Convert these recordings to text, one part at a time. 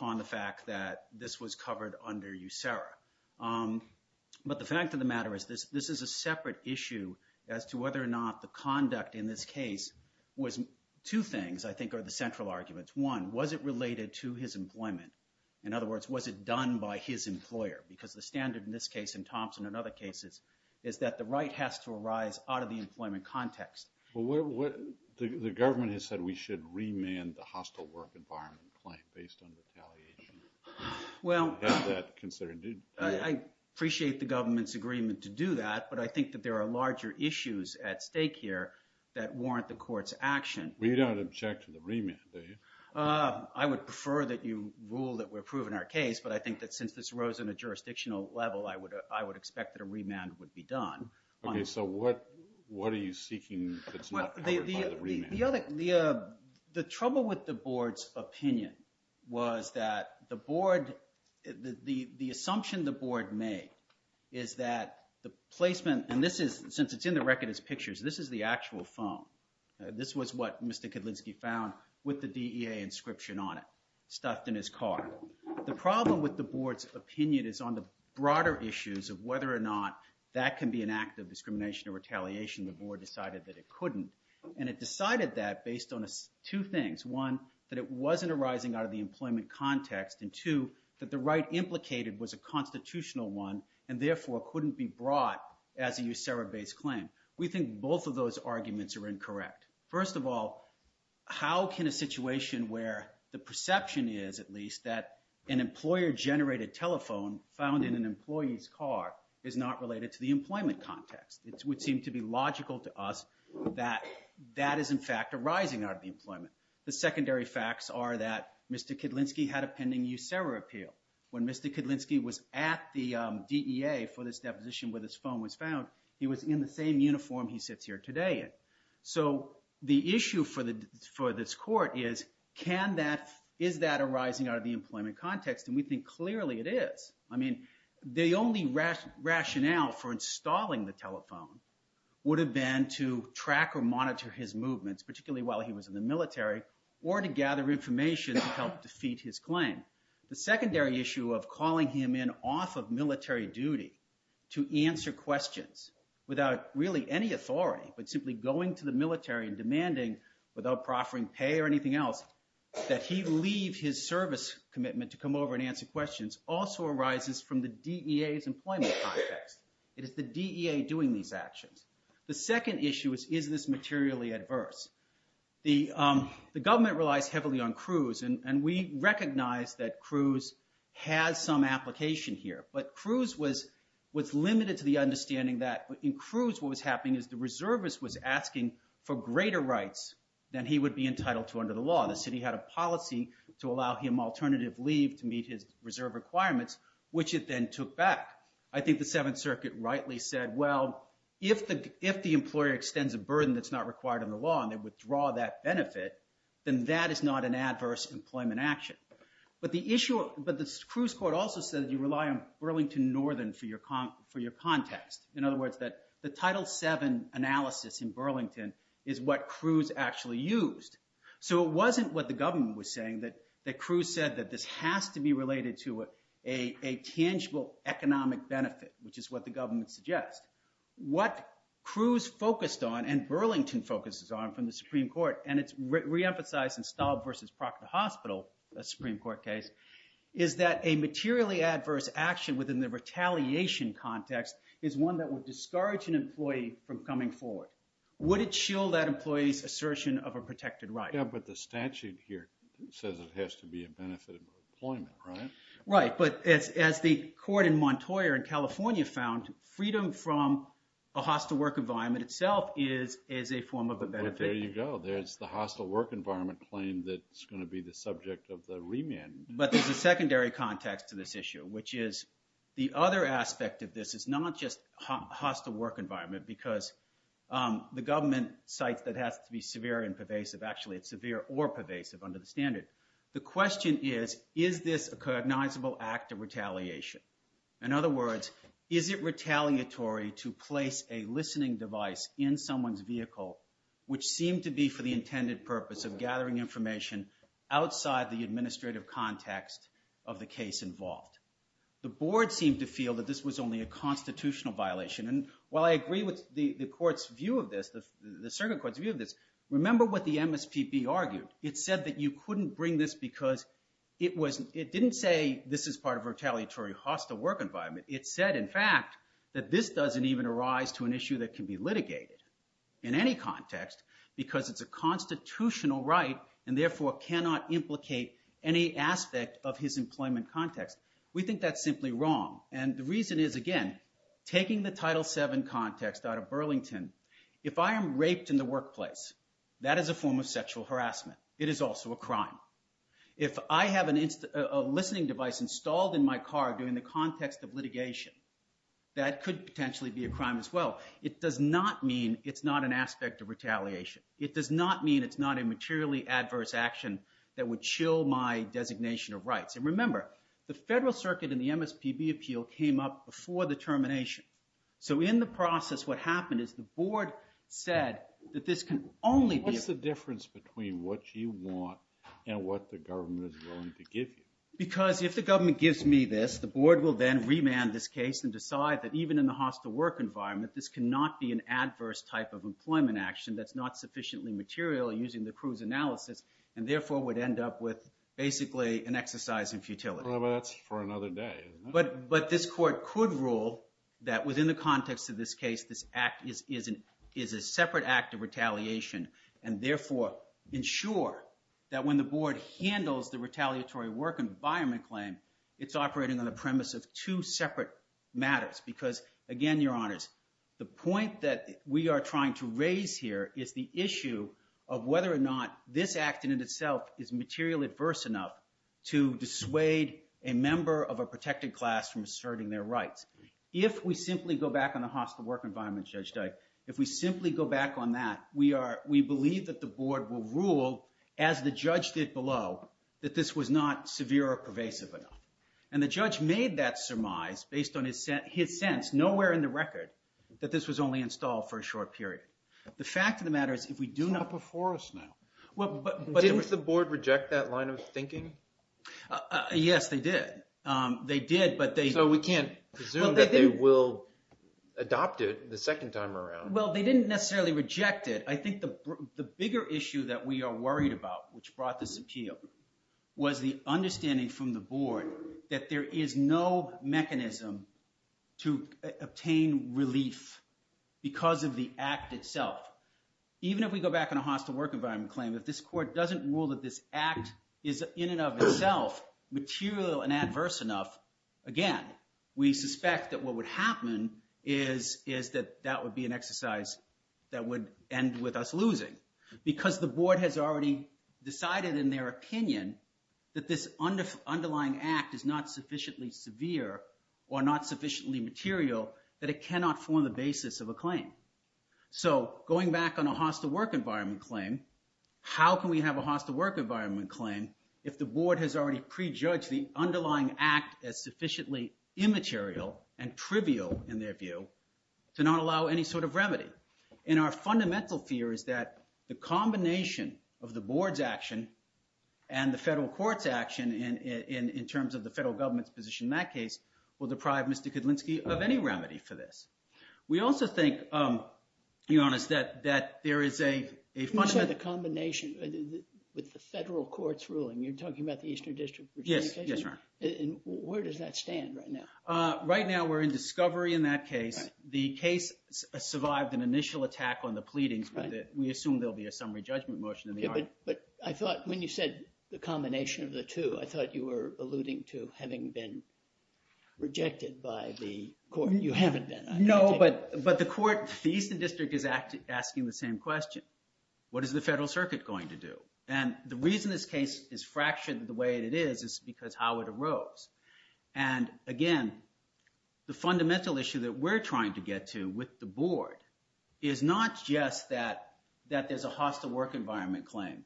on the fact that this was covered under USERRA. But the fact of the matter is this is a separate issue as to whether or not the conduct in this case was, two things I think are the central arguments. One, was it related to his employment? In other words, was it done by his employer? Because the standard in this case, in Thompson and other cases, is that the right has to arise out of the employment context. Well, what, the government has said we should remand the hostile work environment claim based on retaliation. Well, I appreciate the government's agreement to do that, but I think that there are larger issues at stake here that warrant the court's action. We don't object to the remand, do we? I would prefer that you rule that we're approving our case, but I think that since this rose on a jurisdictional level, I would expect that a remand would be done. Okay, so what are you seeking that's not covered by the remand? The other, the trouble with the board's opinion was that the board, the assumption the board made is that the placement, and this is, since it's in the record as pictures, this is the actual phone. This was what Mr. Kedlinski found with the DEA inscription on it, stuffed in his car. The problem with the board's opinion is on the broader issues of whether or not that can be an act of discrimination or retaliation, the board decided that it couldn't. And it decided that based on two things. One, that it wasn't arising out of the employment context, and two, that the right implicated was a constitutional one, and therefore couldn't be brought as a USERRA-based claim. We think both of those arguments are incorrect. First of all, how can a situation where the perception is, at least, that an employer-generated telephone found in an employee's car is not related to the employment context? It would in fact arising out of the employment. The secondary facts are that Mr. Kedlinski had a pending USERRA appeal. When Mr. Kedlinski was at the DEA for this deposition where this phone was found, he was in the same uniform he sits here today in. So the issue for this court is, can that, is that arising out of the employment context? And we think clearly it is. I mean, the only rationale for installing the telephone would have been to track or to make statements, particularly while he was in the military, or to gather information to help defeat his claim. The secondary issue of calling him in off of military duty to answer questions without really any authority, but simply going to the military and demanding, without proffering pay or anything else, that he leave his service commitment to come over and answer questions also arises from the DEA's employment context. It is the DEA doing these actions. The second issue is, is this materially adverse? The government relies heavily on Cruz, and we recognize that Cruz has some application here, but Cruz was limited to the understanding that in Cruz what was happening is the reservist was asking for greater rights than he would be entitled to under the law. The city had a policy to allow him alternative leave to meet his reserve requirements, which it then took back. I think the Seventh Circuit rightly said, well, if the employer extends a burden that's not required under the law and they withdraw that benefit, then that is not an adverse employment action. But the issue, but the Cruz court also said you rely on Burlington Northern for your context. In other words, that the Title VII analysis in Burlington is what Cruz actually used. So it wasn't what the government was saying that Cruz said that this has to be related to a tangible economic benefit, which is what the government suggests. What Cruz focused on and Burlington focuses on from the Supreme Court, and it's reemphasized in Staub versus Proctor Hospital, a Supreme Court case, is that a materially adverse action within the retaliation context is one that would discourage an employee from coming forward. Would it shield that employee's assertion of a protected right? Yeah, but the statute here says it has to be a benefit of employment, right? Right, but as the court in Montoyer in California found, freedom from a hostile work environment itself is a form of a benefit. Well, there you go. There's the hostile work environment claim that's going to be the subject of the remand. But there's a secondary context to this issue, which is the other aspect of this is not just hostile work environment because the government cites that it has to be severe and pervasive. Actually, it's severe or pervasive under the standard. The question is, is this a cognizable act of retaliation? In other words, is it retaliatory to place a listening device in someone's vehicle, which seemed to be for the intended purpose of gathering information outside the administrative context of the case involved? The board seemed to feel that this was only a constitutional violation, and while I agree with the court's view of this, the circuit court's view of this, remember what the MSPB argued. It said that you couldn't bring this because it didn't say this is part of a retaliatory hostile work environment. It said, in fact, that this doesn't even arise to an issue that can be litigated in any context because it's a constitutional right and therefore cannot implicate any aspect of his employment context. We think that's simply wrong, and the reason is, again, taking the Title VII context out of Burlington, if I am raped in the workplace, that is a form of sexual harassment. It is also a crime. If I have a listening device installed in my car during the context of litigation, that could potentially be a crime as well. It does not mean it's not an aspect of retaliation. It does not mean it's not a materially adverse action that would chill my designation of rights. And remember, the federal circuit in the MSPB appeal came up before the termination. So in the process, what happened is the board said that this can only be- What's the difference between what you want and what the government is willing to give you? Because if the government gives me this, the board will then remand this case and decide that even in the hostile work environment, this cannot be an adverse type of employment action that's not sufficiently material using the Cruz analysis and therefore would end up with basically an exercise in futility. Well, but that's for another day, isn't it? But this court could rule that within the context of this case, this act is a separate act of retaliation and therefore ensure that when the board handles the retaliatory work environment claim, it's operating on the premise of two separate matters. Because again, Your Honors, the point that we are trying to raise here is the issue of whether or not this act in and of itself is material adverse enough to dissuade a member of a protected class from asserting their rights. If we simply go back on the hostile work environment, Judge Dyke, if we simply go back on that, we believe that the board will rule, as the judge did below, that this was not severe or pervasive enough. And the judge made that surmise based on his sense, nowhere in the record, that this was only installed for a short period. The fact of the matter is if we do not- It's up before us now. Didn't the board reject that line of thinking? Yes, they did. They did, but they- So we can't presume that they will adopt it the second time around. Well, they didn't necessarily reject it. I think the bigger issue that we are worried about, which brought this appeal, was the understanding from the board that there is no mechanism to obtain relief because of the act itself. Even if we go back on a hostile work environment claim, if this court doesn't rule that this act is in and of itself material and adverse enough, again, we suspect that what would happen is that that would be an exercise that would end with us losing because the board has already decided in their opinion that this underlying act is not sufficiently severe or not sufficiently material that it cannot form the basis of a claim. So going back on a hostile work environment claim, how can we have a hostile work environment claim if the board has already prejudged the underlying act as sufficiently immaterial and trivial in their view to not allow any sort of remedy? And our fundamental fear is that the combination of the board's action and the federal court's action in terms of the federal government's position in that case will deprive Mr. Kudlinski of any remedy for this. We also think, to be honest, that there is a fundamental... You said the combination with the federal court's ruling. You're talking about the Eastern District of Virginia case? Yes, yes, Your Honor. And where does that stand right now? Right now, we're in discovery in that case. The case survived an initial attack on the pleadings with it. We assume there'll be a summary judgment motion in the argument. But I thought when you said the combination of the two, I thought you were alluding to having been rejected by the court. You haven't been, I take it? No, but the court, the Eastern District is asking the same question. What is the federal circuit going to do? And the reason this case is fractured the way that it is is because how it arose. And again, the fundamental issue that we're trying to get to with the board is not just that there's a hostile work environment claim,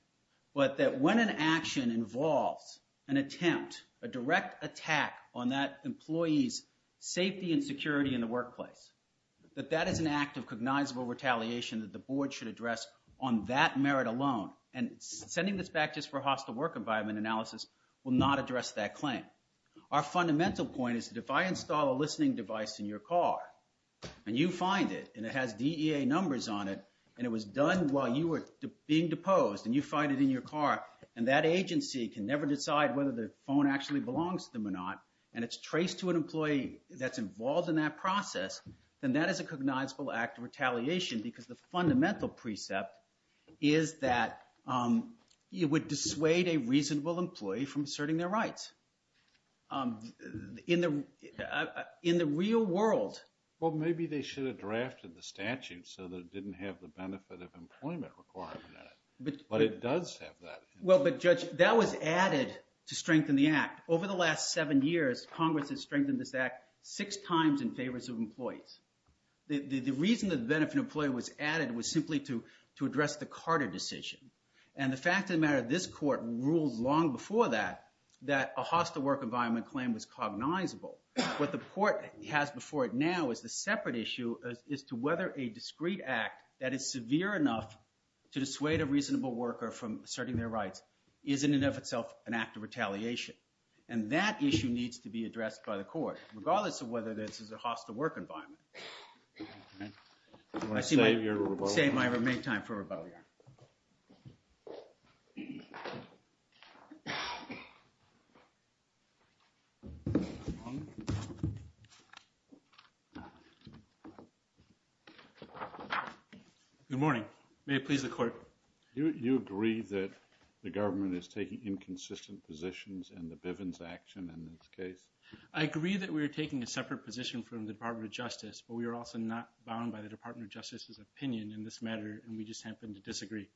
but that when an action involves an indirect attack on that employee's safety and security in the workplace, that that is an act of cognizable retaliation that the board should address on that merit alone. And sending this back just for hostile work environment analysis will not address that claim. Our fundamental point is that if I install a listening device in your car and you find it and it has DEA numbers on it and it was done while you were being deposed and you find it in your car and that agency can never decide whether the phone actually belongs to them or not, and it's traced to an employee that's involved in that process, then that is a cognizable act of retaliation because the fundamental precept is that it would dissuade a reasonable employee from asserting their rights. In the real world... Well, maybe they should have drafted the statute so that it didn't have the benefit of employment requirement in it, but it does have that. Well, but Judge, that was added to strengthen the act. Over the last seven years, Congress has strengthened this act six times in favor of employees. The reason that the benefit of employee was added was simply to address the Carter decision. And the fact of the matter, this court ruled long before that that a hostile work environment claim was cognizable. What the court has before it now is the separate issue as to whether a discreet act that is severe enough to dissuade a reasonable worker from asserting their rights is in and of itself an act of retaliation. And that issue needs to be addressed by the court, regardless of whether this is a hostile work environment. Good morning. May it please the court. Do you agree that the government is taking inconsistent positions in the Bivens action in this case? I agree that we are taking a separate position from the Department of Justice, but we are also not bound by the Department of Justice's opinion in this matter, and we just happen to disagree.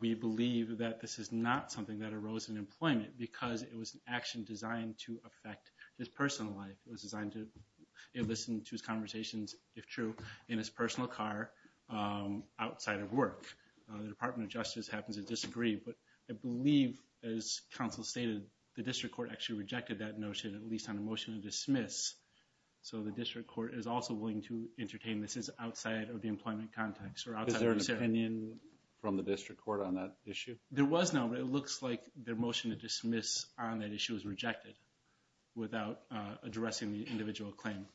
We believe that this is not something that arose in employment because it was an action designed to affect his personal life. It was designed to listen to his conversations, if true, in his personal car, outside of work. The Department of Justice happens to disagree, but I believe, as counsel stated, the district court actually rejected that notion, at least on a motion to dismiss. So the district court is also willing to entertain this as outside of the employment context or outside of this area. Is there an opinion from the district court on that issue? There was no, but it looks like their motion to dismiss on that issue was rejected without addressing the individual claim.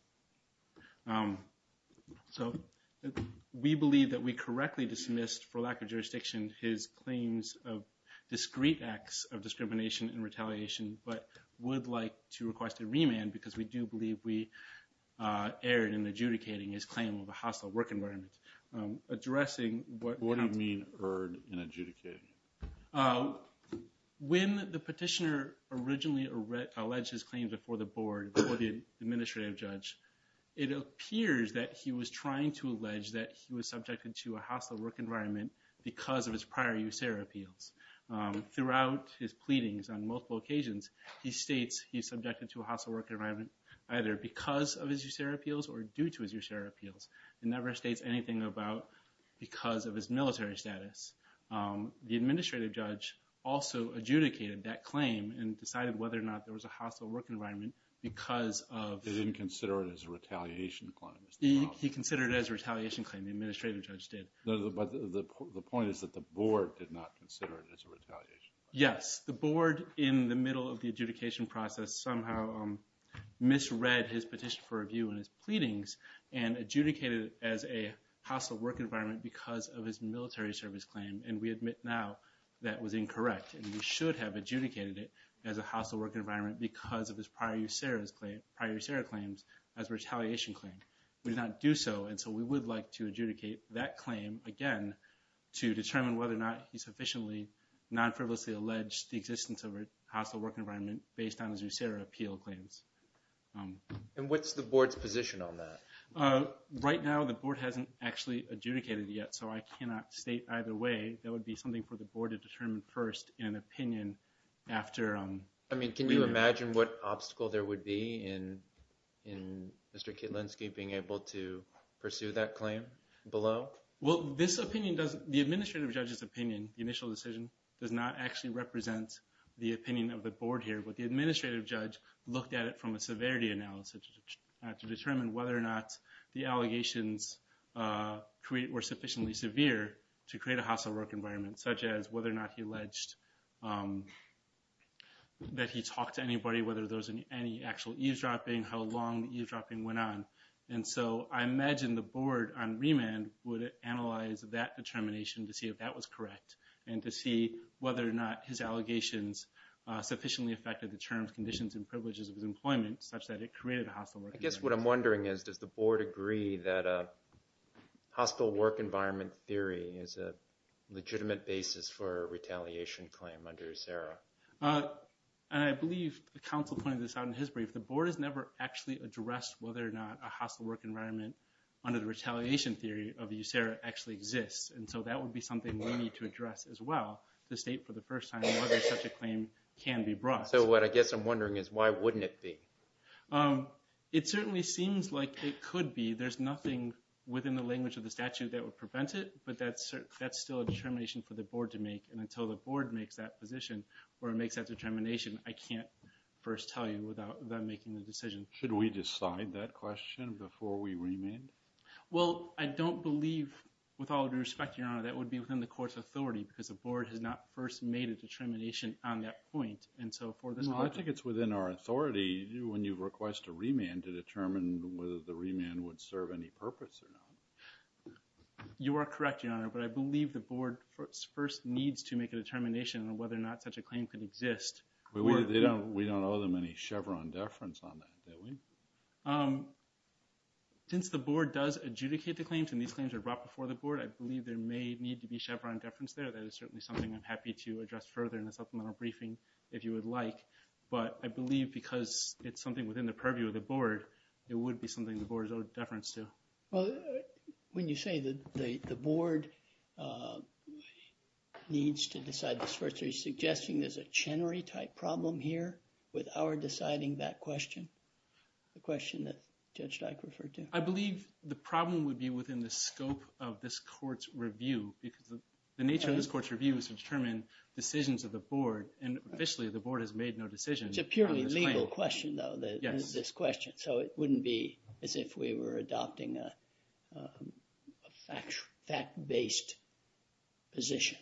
So we believe that we correctly dismissed, for lack of jurisdiction, his claims of discreet acts of discrimination and retaliation, but would like to request a remand because we do believe we erred in adjudicating his claim of a hostile work environment. What do you mean, erred in adjudicating? When the petitioner originally alleged his claims before the board, before the administrative judge, it appears that he was trying to allege that he was subjected to a hostile work environment because of his prior USERA appeals. Throughout his pleadings on multiple occasions, he states he's subjected to a hostile work environment either because of his USERA appeals or due to his USERA appeals. It never states anything about because of his military status. The administrative judge also adjudicated that claim and decided whether or not there was a hostile work environment because of... They didn't consider it as a retaliation claim. He considered it as a retaliation claim. The administrative judge did. The point is that the board did not consider it as a retaliation claim. Yes. The board, in the middle of the adjudication process, somehow misread his petition for and adjudicated it as a hostile work environment because of his military service claim. We admit now that was incorrect. We should have adjudicated it as a hostile work environment because of his prior USERA claims as a retaliation claim. We did not do so, and so we would like to adjudicate that claim again to determine whether or not he sufficiently non-frivolously alleged the existence of a hostile work environment based on his USERA appeal claims. And what's the board's position on that? Right now, the board hasn't actually adjudicated it yet, so I cannot state either way. That would be something for the board to determine first in an opinion after... I mean, can you imagine what obstacle there would be in Mr. Kietlinski being able to pursue that claim below? Well, this opinion doesn't... The administrative judge's opinion, the initial decision, does not actually represent the opinion of the board here, but the administrative judge looked at it from a severity analysis to determine whether or not the allegations were sufficiently severe to create a hostile work environment, such as whether or not he alleged that he talked to anybody, whether there was any actual eavesdropping, how long the eavesdropping went on. And so I imagine the board on remand would analyze that determination to see if that was correct and to see whether or not his allegations sufficiently affected the terms, conditions, and privileges of his employment such that it created a hostile work environment. I guess what I'm wondering is, does the board agree that a hostile work environment theory is a legitimate basis for a retaliation claim under USERRA? And I believe the counsel pointed this out in his brief. The board has never actually addressed whether or not a hostile work environment under the retaliation theory of USERRA actually exists. And so that would be something we need to address as well to state for the first time whether such a claim can be brought. So what I guess I'm wondering is, why wouldn't it be? It certainly seems like it could be. There's nothing within the language of the statute that would prevent it. But that's still a determination for the board to make. And until the board makes that position or makes that determination, I can't first tell you without them making the decision. Should we decide that question before we remand? Well, I don't believe, with all due respect, Your Honor, that would be within the court's authority because the board has not first made a determination on that point. I think it's within our authority when you request a remand to determine whether the remand would serve any purpose or not. You are correct, Your Honor, but I believe the board first needs to make a determination on whether or not such a claim can exist. We don't owe them any Chevron deference on that, do we? Since the board does adjudicate the claims and these claims are brought before the board, I believe there may need to be Chevron deference there. That is certainly something I'm happy to address further in the supplemental briefing if you would like. But I believe because it's something within the purview of the board, it would be something the board is owed deference to. Well, when you say that the board needs to decide this first, are you suggesting there's a Chenery-type problem here with our deciding that question, the question that Judge Dyke referred to? I believe the problem would be within the scope of this court's review because the nature of this court's review is to determine decisions of the board. And officially, the board has made no decisions on this claim. It's a purely legal question, though, this question. So it wouldn't be as if we were adopting a fact-based position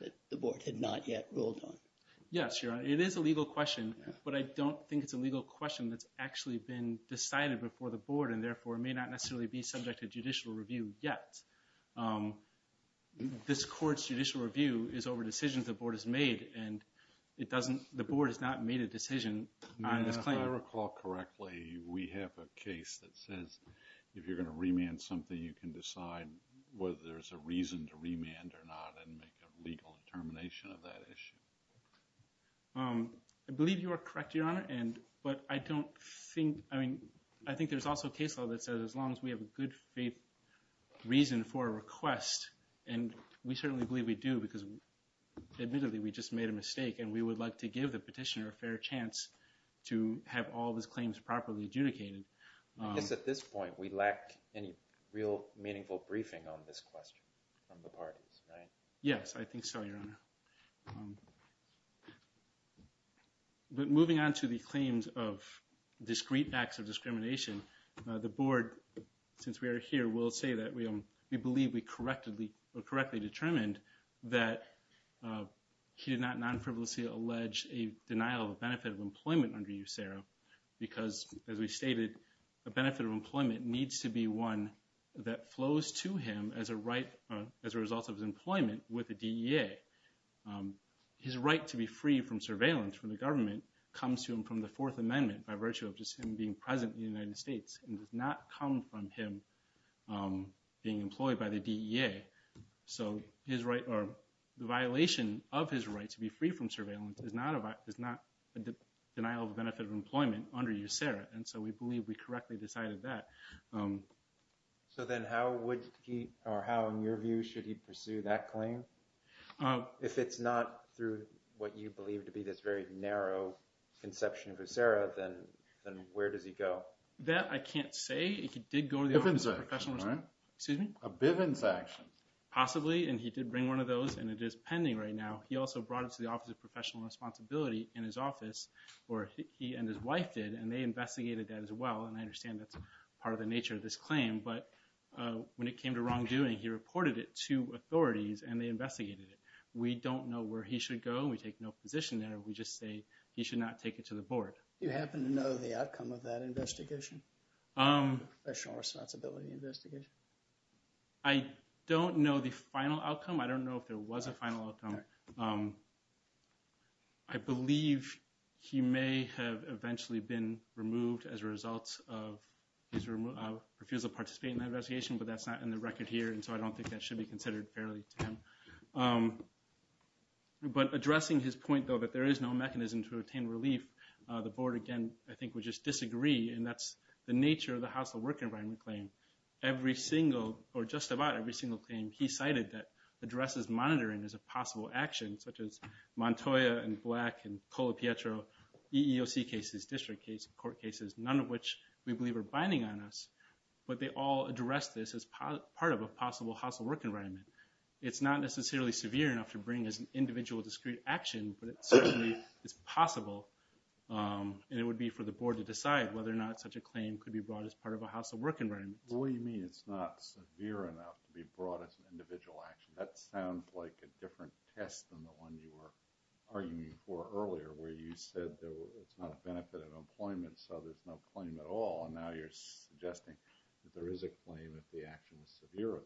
that the board had not yet ruled on. Yes, Your Honor, it is a legal question, but I don't think it's a legal question that's actually been decided before the board and therefore may not necessarily be subject to judicial review yet. This court's judicial review is over decisions the board has made, and the board has not made a decision on this claim. If I recall correctly, we have a case that says if you're going to remand something, you can decide whether there's a reason to remand or not and make a legal determination of that issue. I believe you are correct, Your Honor, but I think there's also a case law that says as long as we have a good faith reason for a request, and we certainly believe we do because admittedly, we just made a mistake, and we would like to give the petitioner a fair chance to have all of his claims properly adjudicated. I guess at this point, we lack any real meaningful briefing on this question from the parties, right? Yes, I think so, Your Honor. But moving on to the claims of discrete acts of discrimination, the board, since we are here, will say that we believe we correctly determined that he did not non-frivolously allege a denial of benefit of employment under USERRA because, as we stated, a benefit of employment needs to be one that flows to him as a result of his employment with the DEA. His right to be free from surveillance from the government comes to him from the Fourth Amendment by virtue of just him being present in the United States and does not come from him being employed by the DEA. So the violation of his right to be free from surveillance is not a denial of benefit of employment under USERRA, and so we believe we correctly decided that. So then how would he, or how, in your view, should he pursue that claim? If it's not through what you believe to be this very narrow conception of USERRA, then where does he go? That I can't say. If he did go to the Office of Professional Responsibility... Bivens Act. Excuse me? A Bivens Act. Possibly, and he did bring one of those, and it is pending right now. He also brought it to the Office of Professional Responsibility in his office, or he and his But when it came to wrongdoing, he reported it to authorities and they investigated it. We don't know where he should go. We take no position there. We just say he should not take it to the board. Do you happen to know the outcome of that investigation? The Professional Responsibility investigation? I don't know the final outcome. I don't know if there was a final outcome. I believe he may have eventually been removed as a result of his refusal to participate in that investigation, but that's not in the record here, and so I don't think that should be considered fairly to him. But addressing his point, though, that there is no mechanism to obtain relief, the board, again, I think would just disagree, and that's the nature of the House of Work and Environment claim. Every single, or just about every single claim he cited that addresses monitoring as a possible action, such as Montoya and Black and Colapietro EEOC cases, district cases, court cases, none of which we believe are binding on us, but they all address this as part of a possible House of Work and Environment. It's not necessarily severe enough to bring as an individual discrete action, but it certainly is possible, and it would be for the board to decide whether or not such a claim could be brought as part of a House of Work and Environment. What do you mean it's not severe enough to be brought as an individual action? That sounds like a different test than the one you were arguing for earlier, where you said it's not a benefit of employment, so there's no claim at all, and now you're suggesting that there is a claim if the action is severe enough.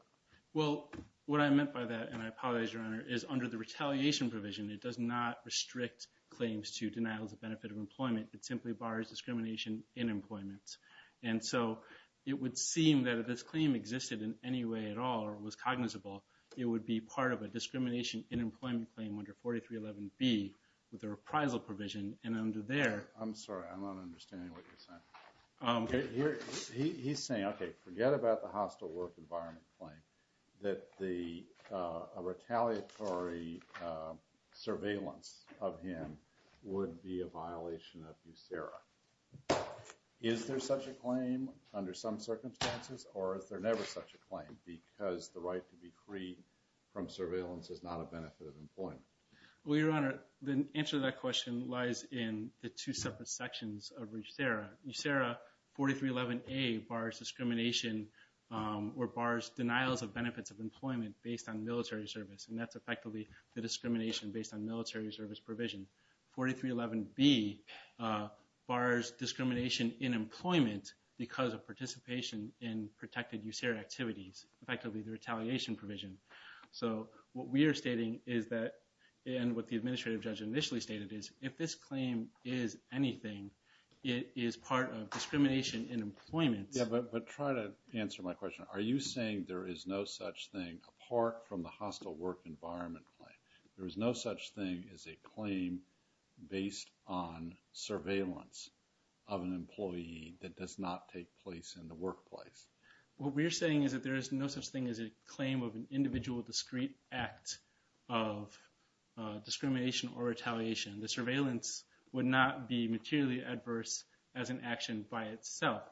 Well, what I meant by that, and I apologize, Your Honor, is under the retaliation provision, it does not restrict claims to denial as a benefit of employment. It simply bars discrimination in employment, and so it would seem that if this claim existed in any way at all or was cognizable, it would be part of a discrimination in employment claim under 4311B with a reprisal provision, and under there... I'm sorry, I'm not understanding what you're saying. He's saying, okay, forget about the House of Work and Environment claim, that the retaliatory Is there such a claim under some circumstances, or is there never such a claim because the right to be free from surveillance is not a benefit of employment? Well, Your Honor, the answer to that question lies in the two separate sections of USERRA. USERRA 4311A bars discrimination or bars denials of benefits of employment based on military service, and that's effectively the discrimination based on military service provision. 4311B bars discrimination in employment because of participation in protected USERRA activities, effectively the retaliation provision. So what we are stating is that, and what the administrative judge initially stated is, if this claim is anything, it is part of discrimination in employment. Yeah, but try to answer my question. Are you saying there is no such thing apart from the hostile work environment claim? There is no such thing as a claim based on surveillance of an employee that does not take place in the workplace. What we are saying is that there is no such thing as a claim of an individual discrete act of discrimination or retaliation. The surveillance would not be materially adverse as an action by itself.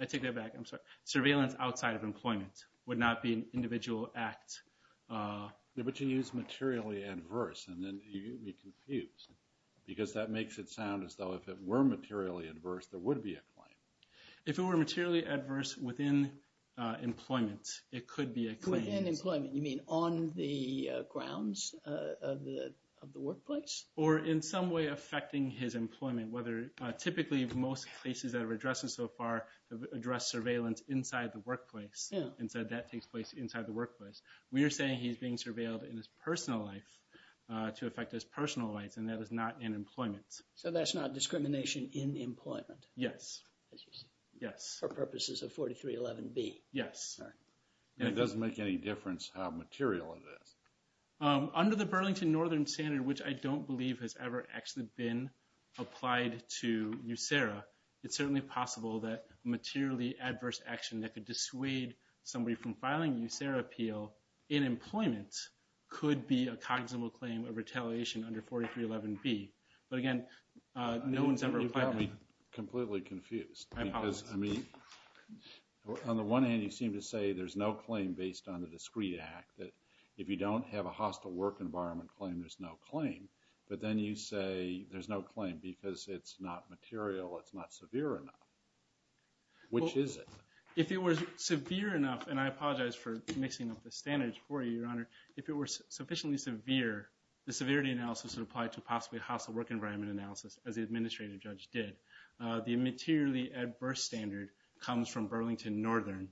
I take that back. I'm sorry. Surveillance outside of employment would not be an individual act. But you use materially adverse, and then you get me confused. Because that makes it sound as though if it were materially adverse, there would be a claim. If it were materially adverse within employment, it could be a claim. Within employment? You mean on the grounds of the workplace? Or in some way affecting his employment, whether typically most cases that we've addressed so far have addressed surveillance inside the workplace. Yeah. And so that takes place inside the workplace. We are saying he's being surveilled in his personal life to affect his personal life, and that is not in employment. So that's not discrimination in employment? Yes. As you say. Yes. For purposes of 4311B. Yes. All right. And it doesn't make any difference how material it is. Under the Burlington Northern Standard, which I don't believe has ever actually been applied to USERRA, it's certainly possible that materially adverse action that could dissuade somebody from filing a USERRA appeal in employment could be a cognizant claim of retaliation under 4311B. But again, no one's ever applied. You've got me completely confused. I apologize. Because, I mean, on the one hand, you seem to say there's no claim based on the discrete act, that if you don't have a hostile work environment claim, there's no claim. But then you say there's no claim because it's not material, it's not severe enough. Which is it? Well, if it was severe enough, and I apologize for mixing up the standards for you, Your Honor, if it were sufficiently severe, the severity analysis would apply to possibly hostile work environment analysis, as the administrative judge did. The materially adverse standard comes from Burlington Northern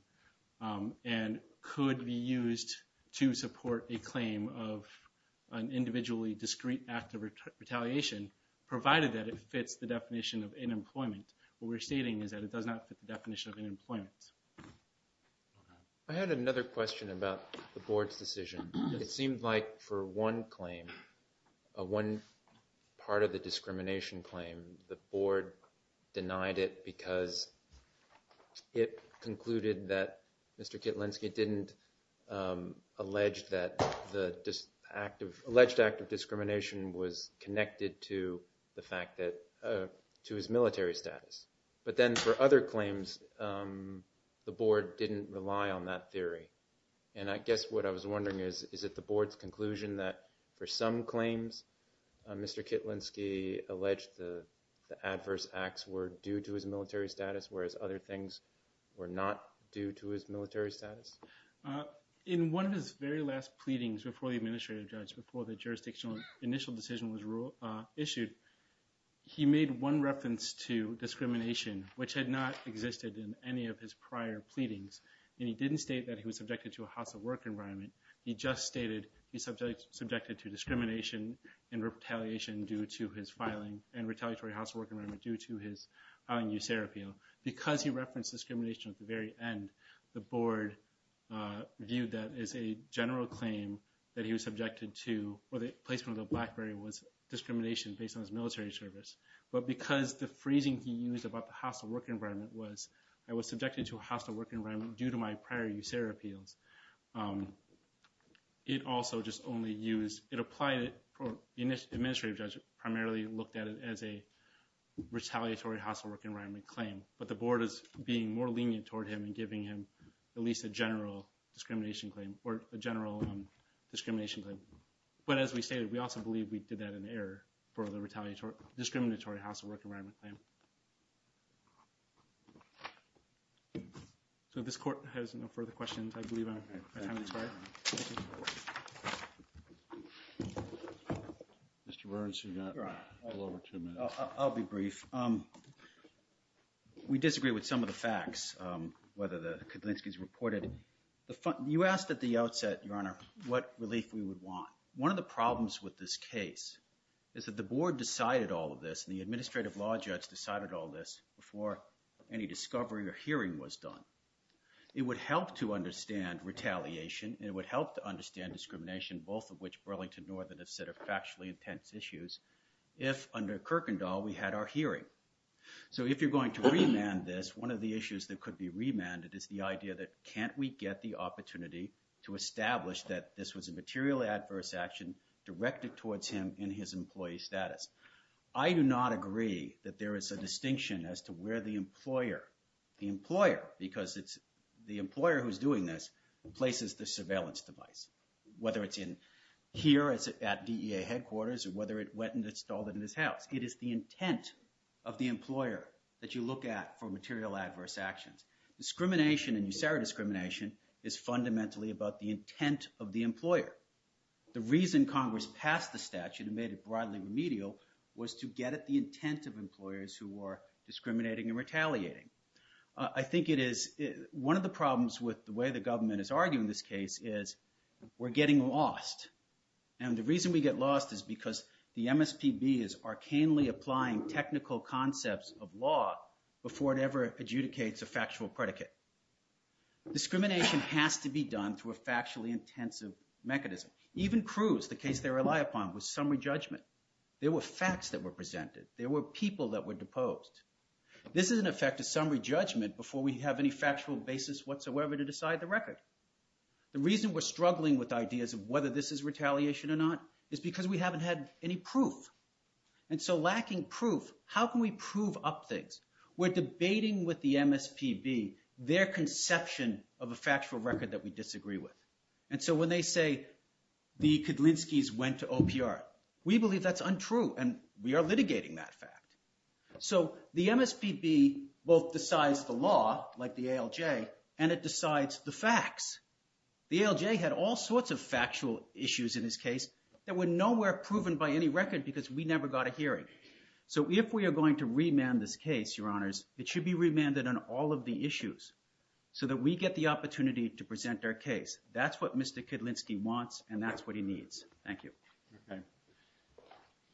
and could be used to support a claim of an individually discrete act of retaliation, provided that it fits the definition of unemployment. What we're stating is that it does not fit the definition of unemployment. I had another question about the board's decision. It seemed like for one claim, one part of the discrimination claim, the board denied it because it concluded that Mr. Kitlinski didn't allege that the alleged act of discrimination was connected to his military status. But then for other claims, the board didn't rely on that theory. And I guess what I was wondering is, is it the board's conclusion that for some claims, Mr. Kitlinski alleged the adverse acts were due to his military status, whereas other things were not due to his military status? In one of his very last pleadings before the administrative judge, before the jurisdictional initial decision was issued, he made one reference to discrimination, which had not existed in any of his prior pleadings. And he didn't state that he was subjected to a hostile work environment. He just stated he's subjected to discrimination and retaliation due to his filing, and retaliatory hostile work environment due to his filing USAREA appeal. Because he referenced discrimination at the very end, the board viewed that as a general claim that he was subjected to, or the placement of the Blackberry was discrimination based on his military service. But because the phrasing he used about the hostile work environment was, I was subjected to a hostile work environment due to my prior USAREA appeals, it also just only used, it applied it, the administrative judge primarily looked at it as a retaliatory hostile work environment claim. But the board is being more lenient toward him and giving him at least a general discrimination claim, or a general discrimination claim. But as we stated, we also believe we did that in error for the discriminatory hostile work environment claim. So if this court has no further questions, I believe our time has expired. Thank you. Mr. Burns, you've got a little over two minutes. I'll be brief. We disagree with some of the facts, whether the Kedlinski's reported. You asked at the outset, Your Honor, what relief we would want. One of the problems with this case is that the board decided all of this, and the administrative law judge decided all of this before any discovery or hearing was done. It would help to understand retaliation, and it would help to understand discrimination, both of which Burlington Northern have said are factually intense issues, if under Kirkendall we had our hearing. So if you're going to remand this, one of the issues that could be remanded is the idea that can't we get the opportunity to establish that this was a materially adverse action directed towards him in his employee status. I do not agree that there is a distinction as to where the employer, the employer, because it's the employer who's doing this, places the surveillance device, whether it's here at DEA headquarters, or whether it went and installed it in his house. It is the intent of the employer that you look at for material adverse actions. Discrimination, and you say our discrimination, is fundamentally about the intent of the employer. The reason Congress passed the statute and made it broadly remedial was to get at the intent of employers who are discriminating and retaliating. I think it is, one of the problems with the way the government is arguing this case is we're getting lost, and the reason we get lost is because the MSPB is arcanely applying technical concepts of law before it ever adjudicates a factual predicate. Discrimination has to be done through a factually intensive mechanism. Even Cruz, the case they rely upon, was summary judgment. There were facts that were presented. There were people that were deposed. This is in effect a summary judgment before we have any factual basis whatsoever to decide the record. The reason we're struggling with ideas of whether this is retaliation or not is because we haven't had any proof, and so lacking proof, how can we prove up things? We're debating with the MSPB their conception of a factual record that we disagree with. When they say the Kedlinskis went to OPR, we believe that's untrue, and we are litigating that fact. The MSPB both decides the law, like the ALJ, and it decides the facts. The ALJ had all sorts of factual issues in this case that were nowhere proven by any record because we never got a hearing. If we are going to remand this case, Your Honors, it should be remanded on all of the issues so that we get the opportunity to present our case. That's what Mr. Kedlinski wants, and that's what he needs. Thank you.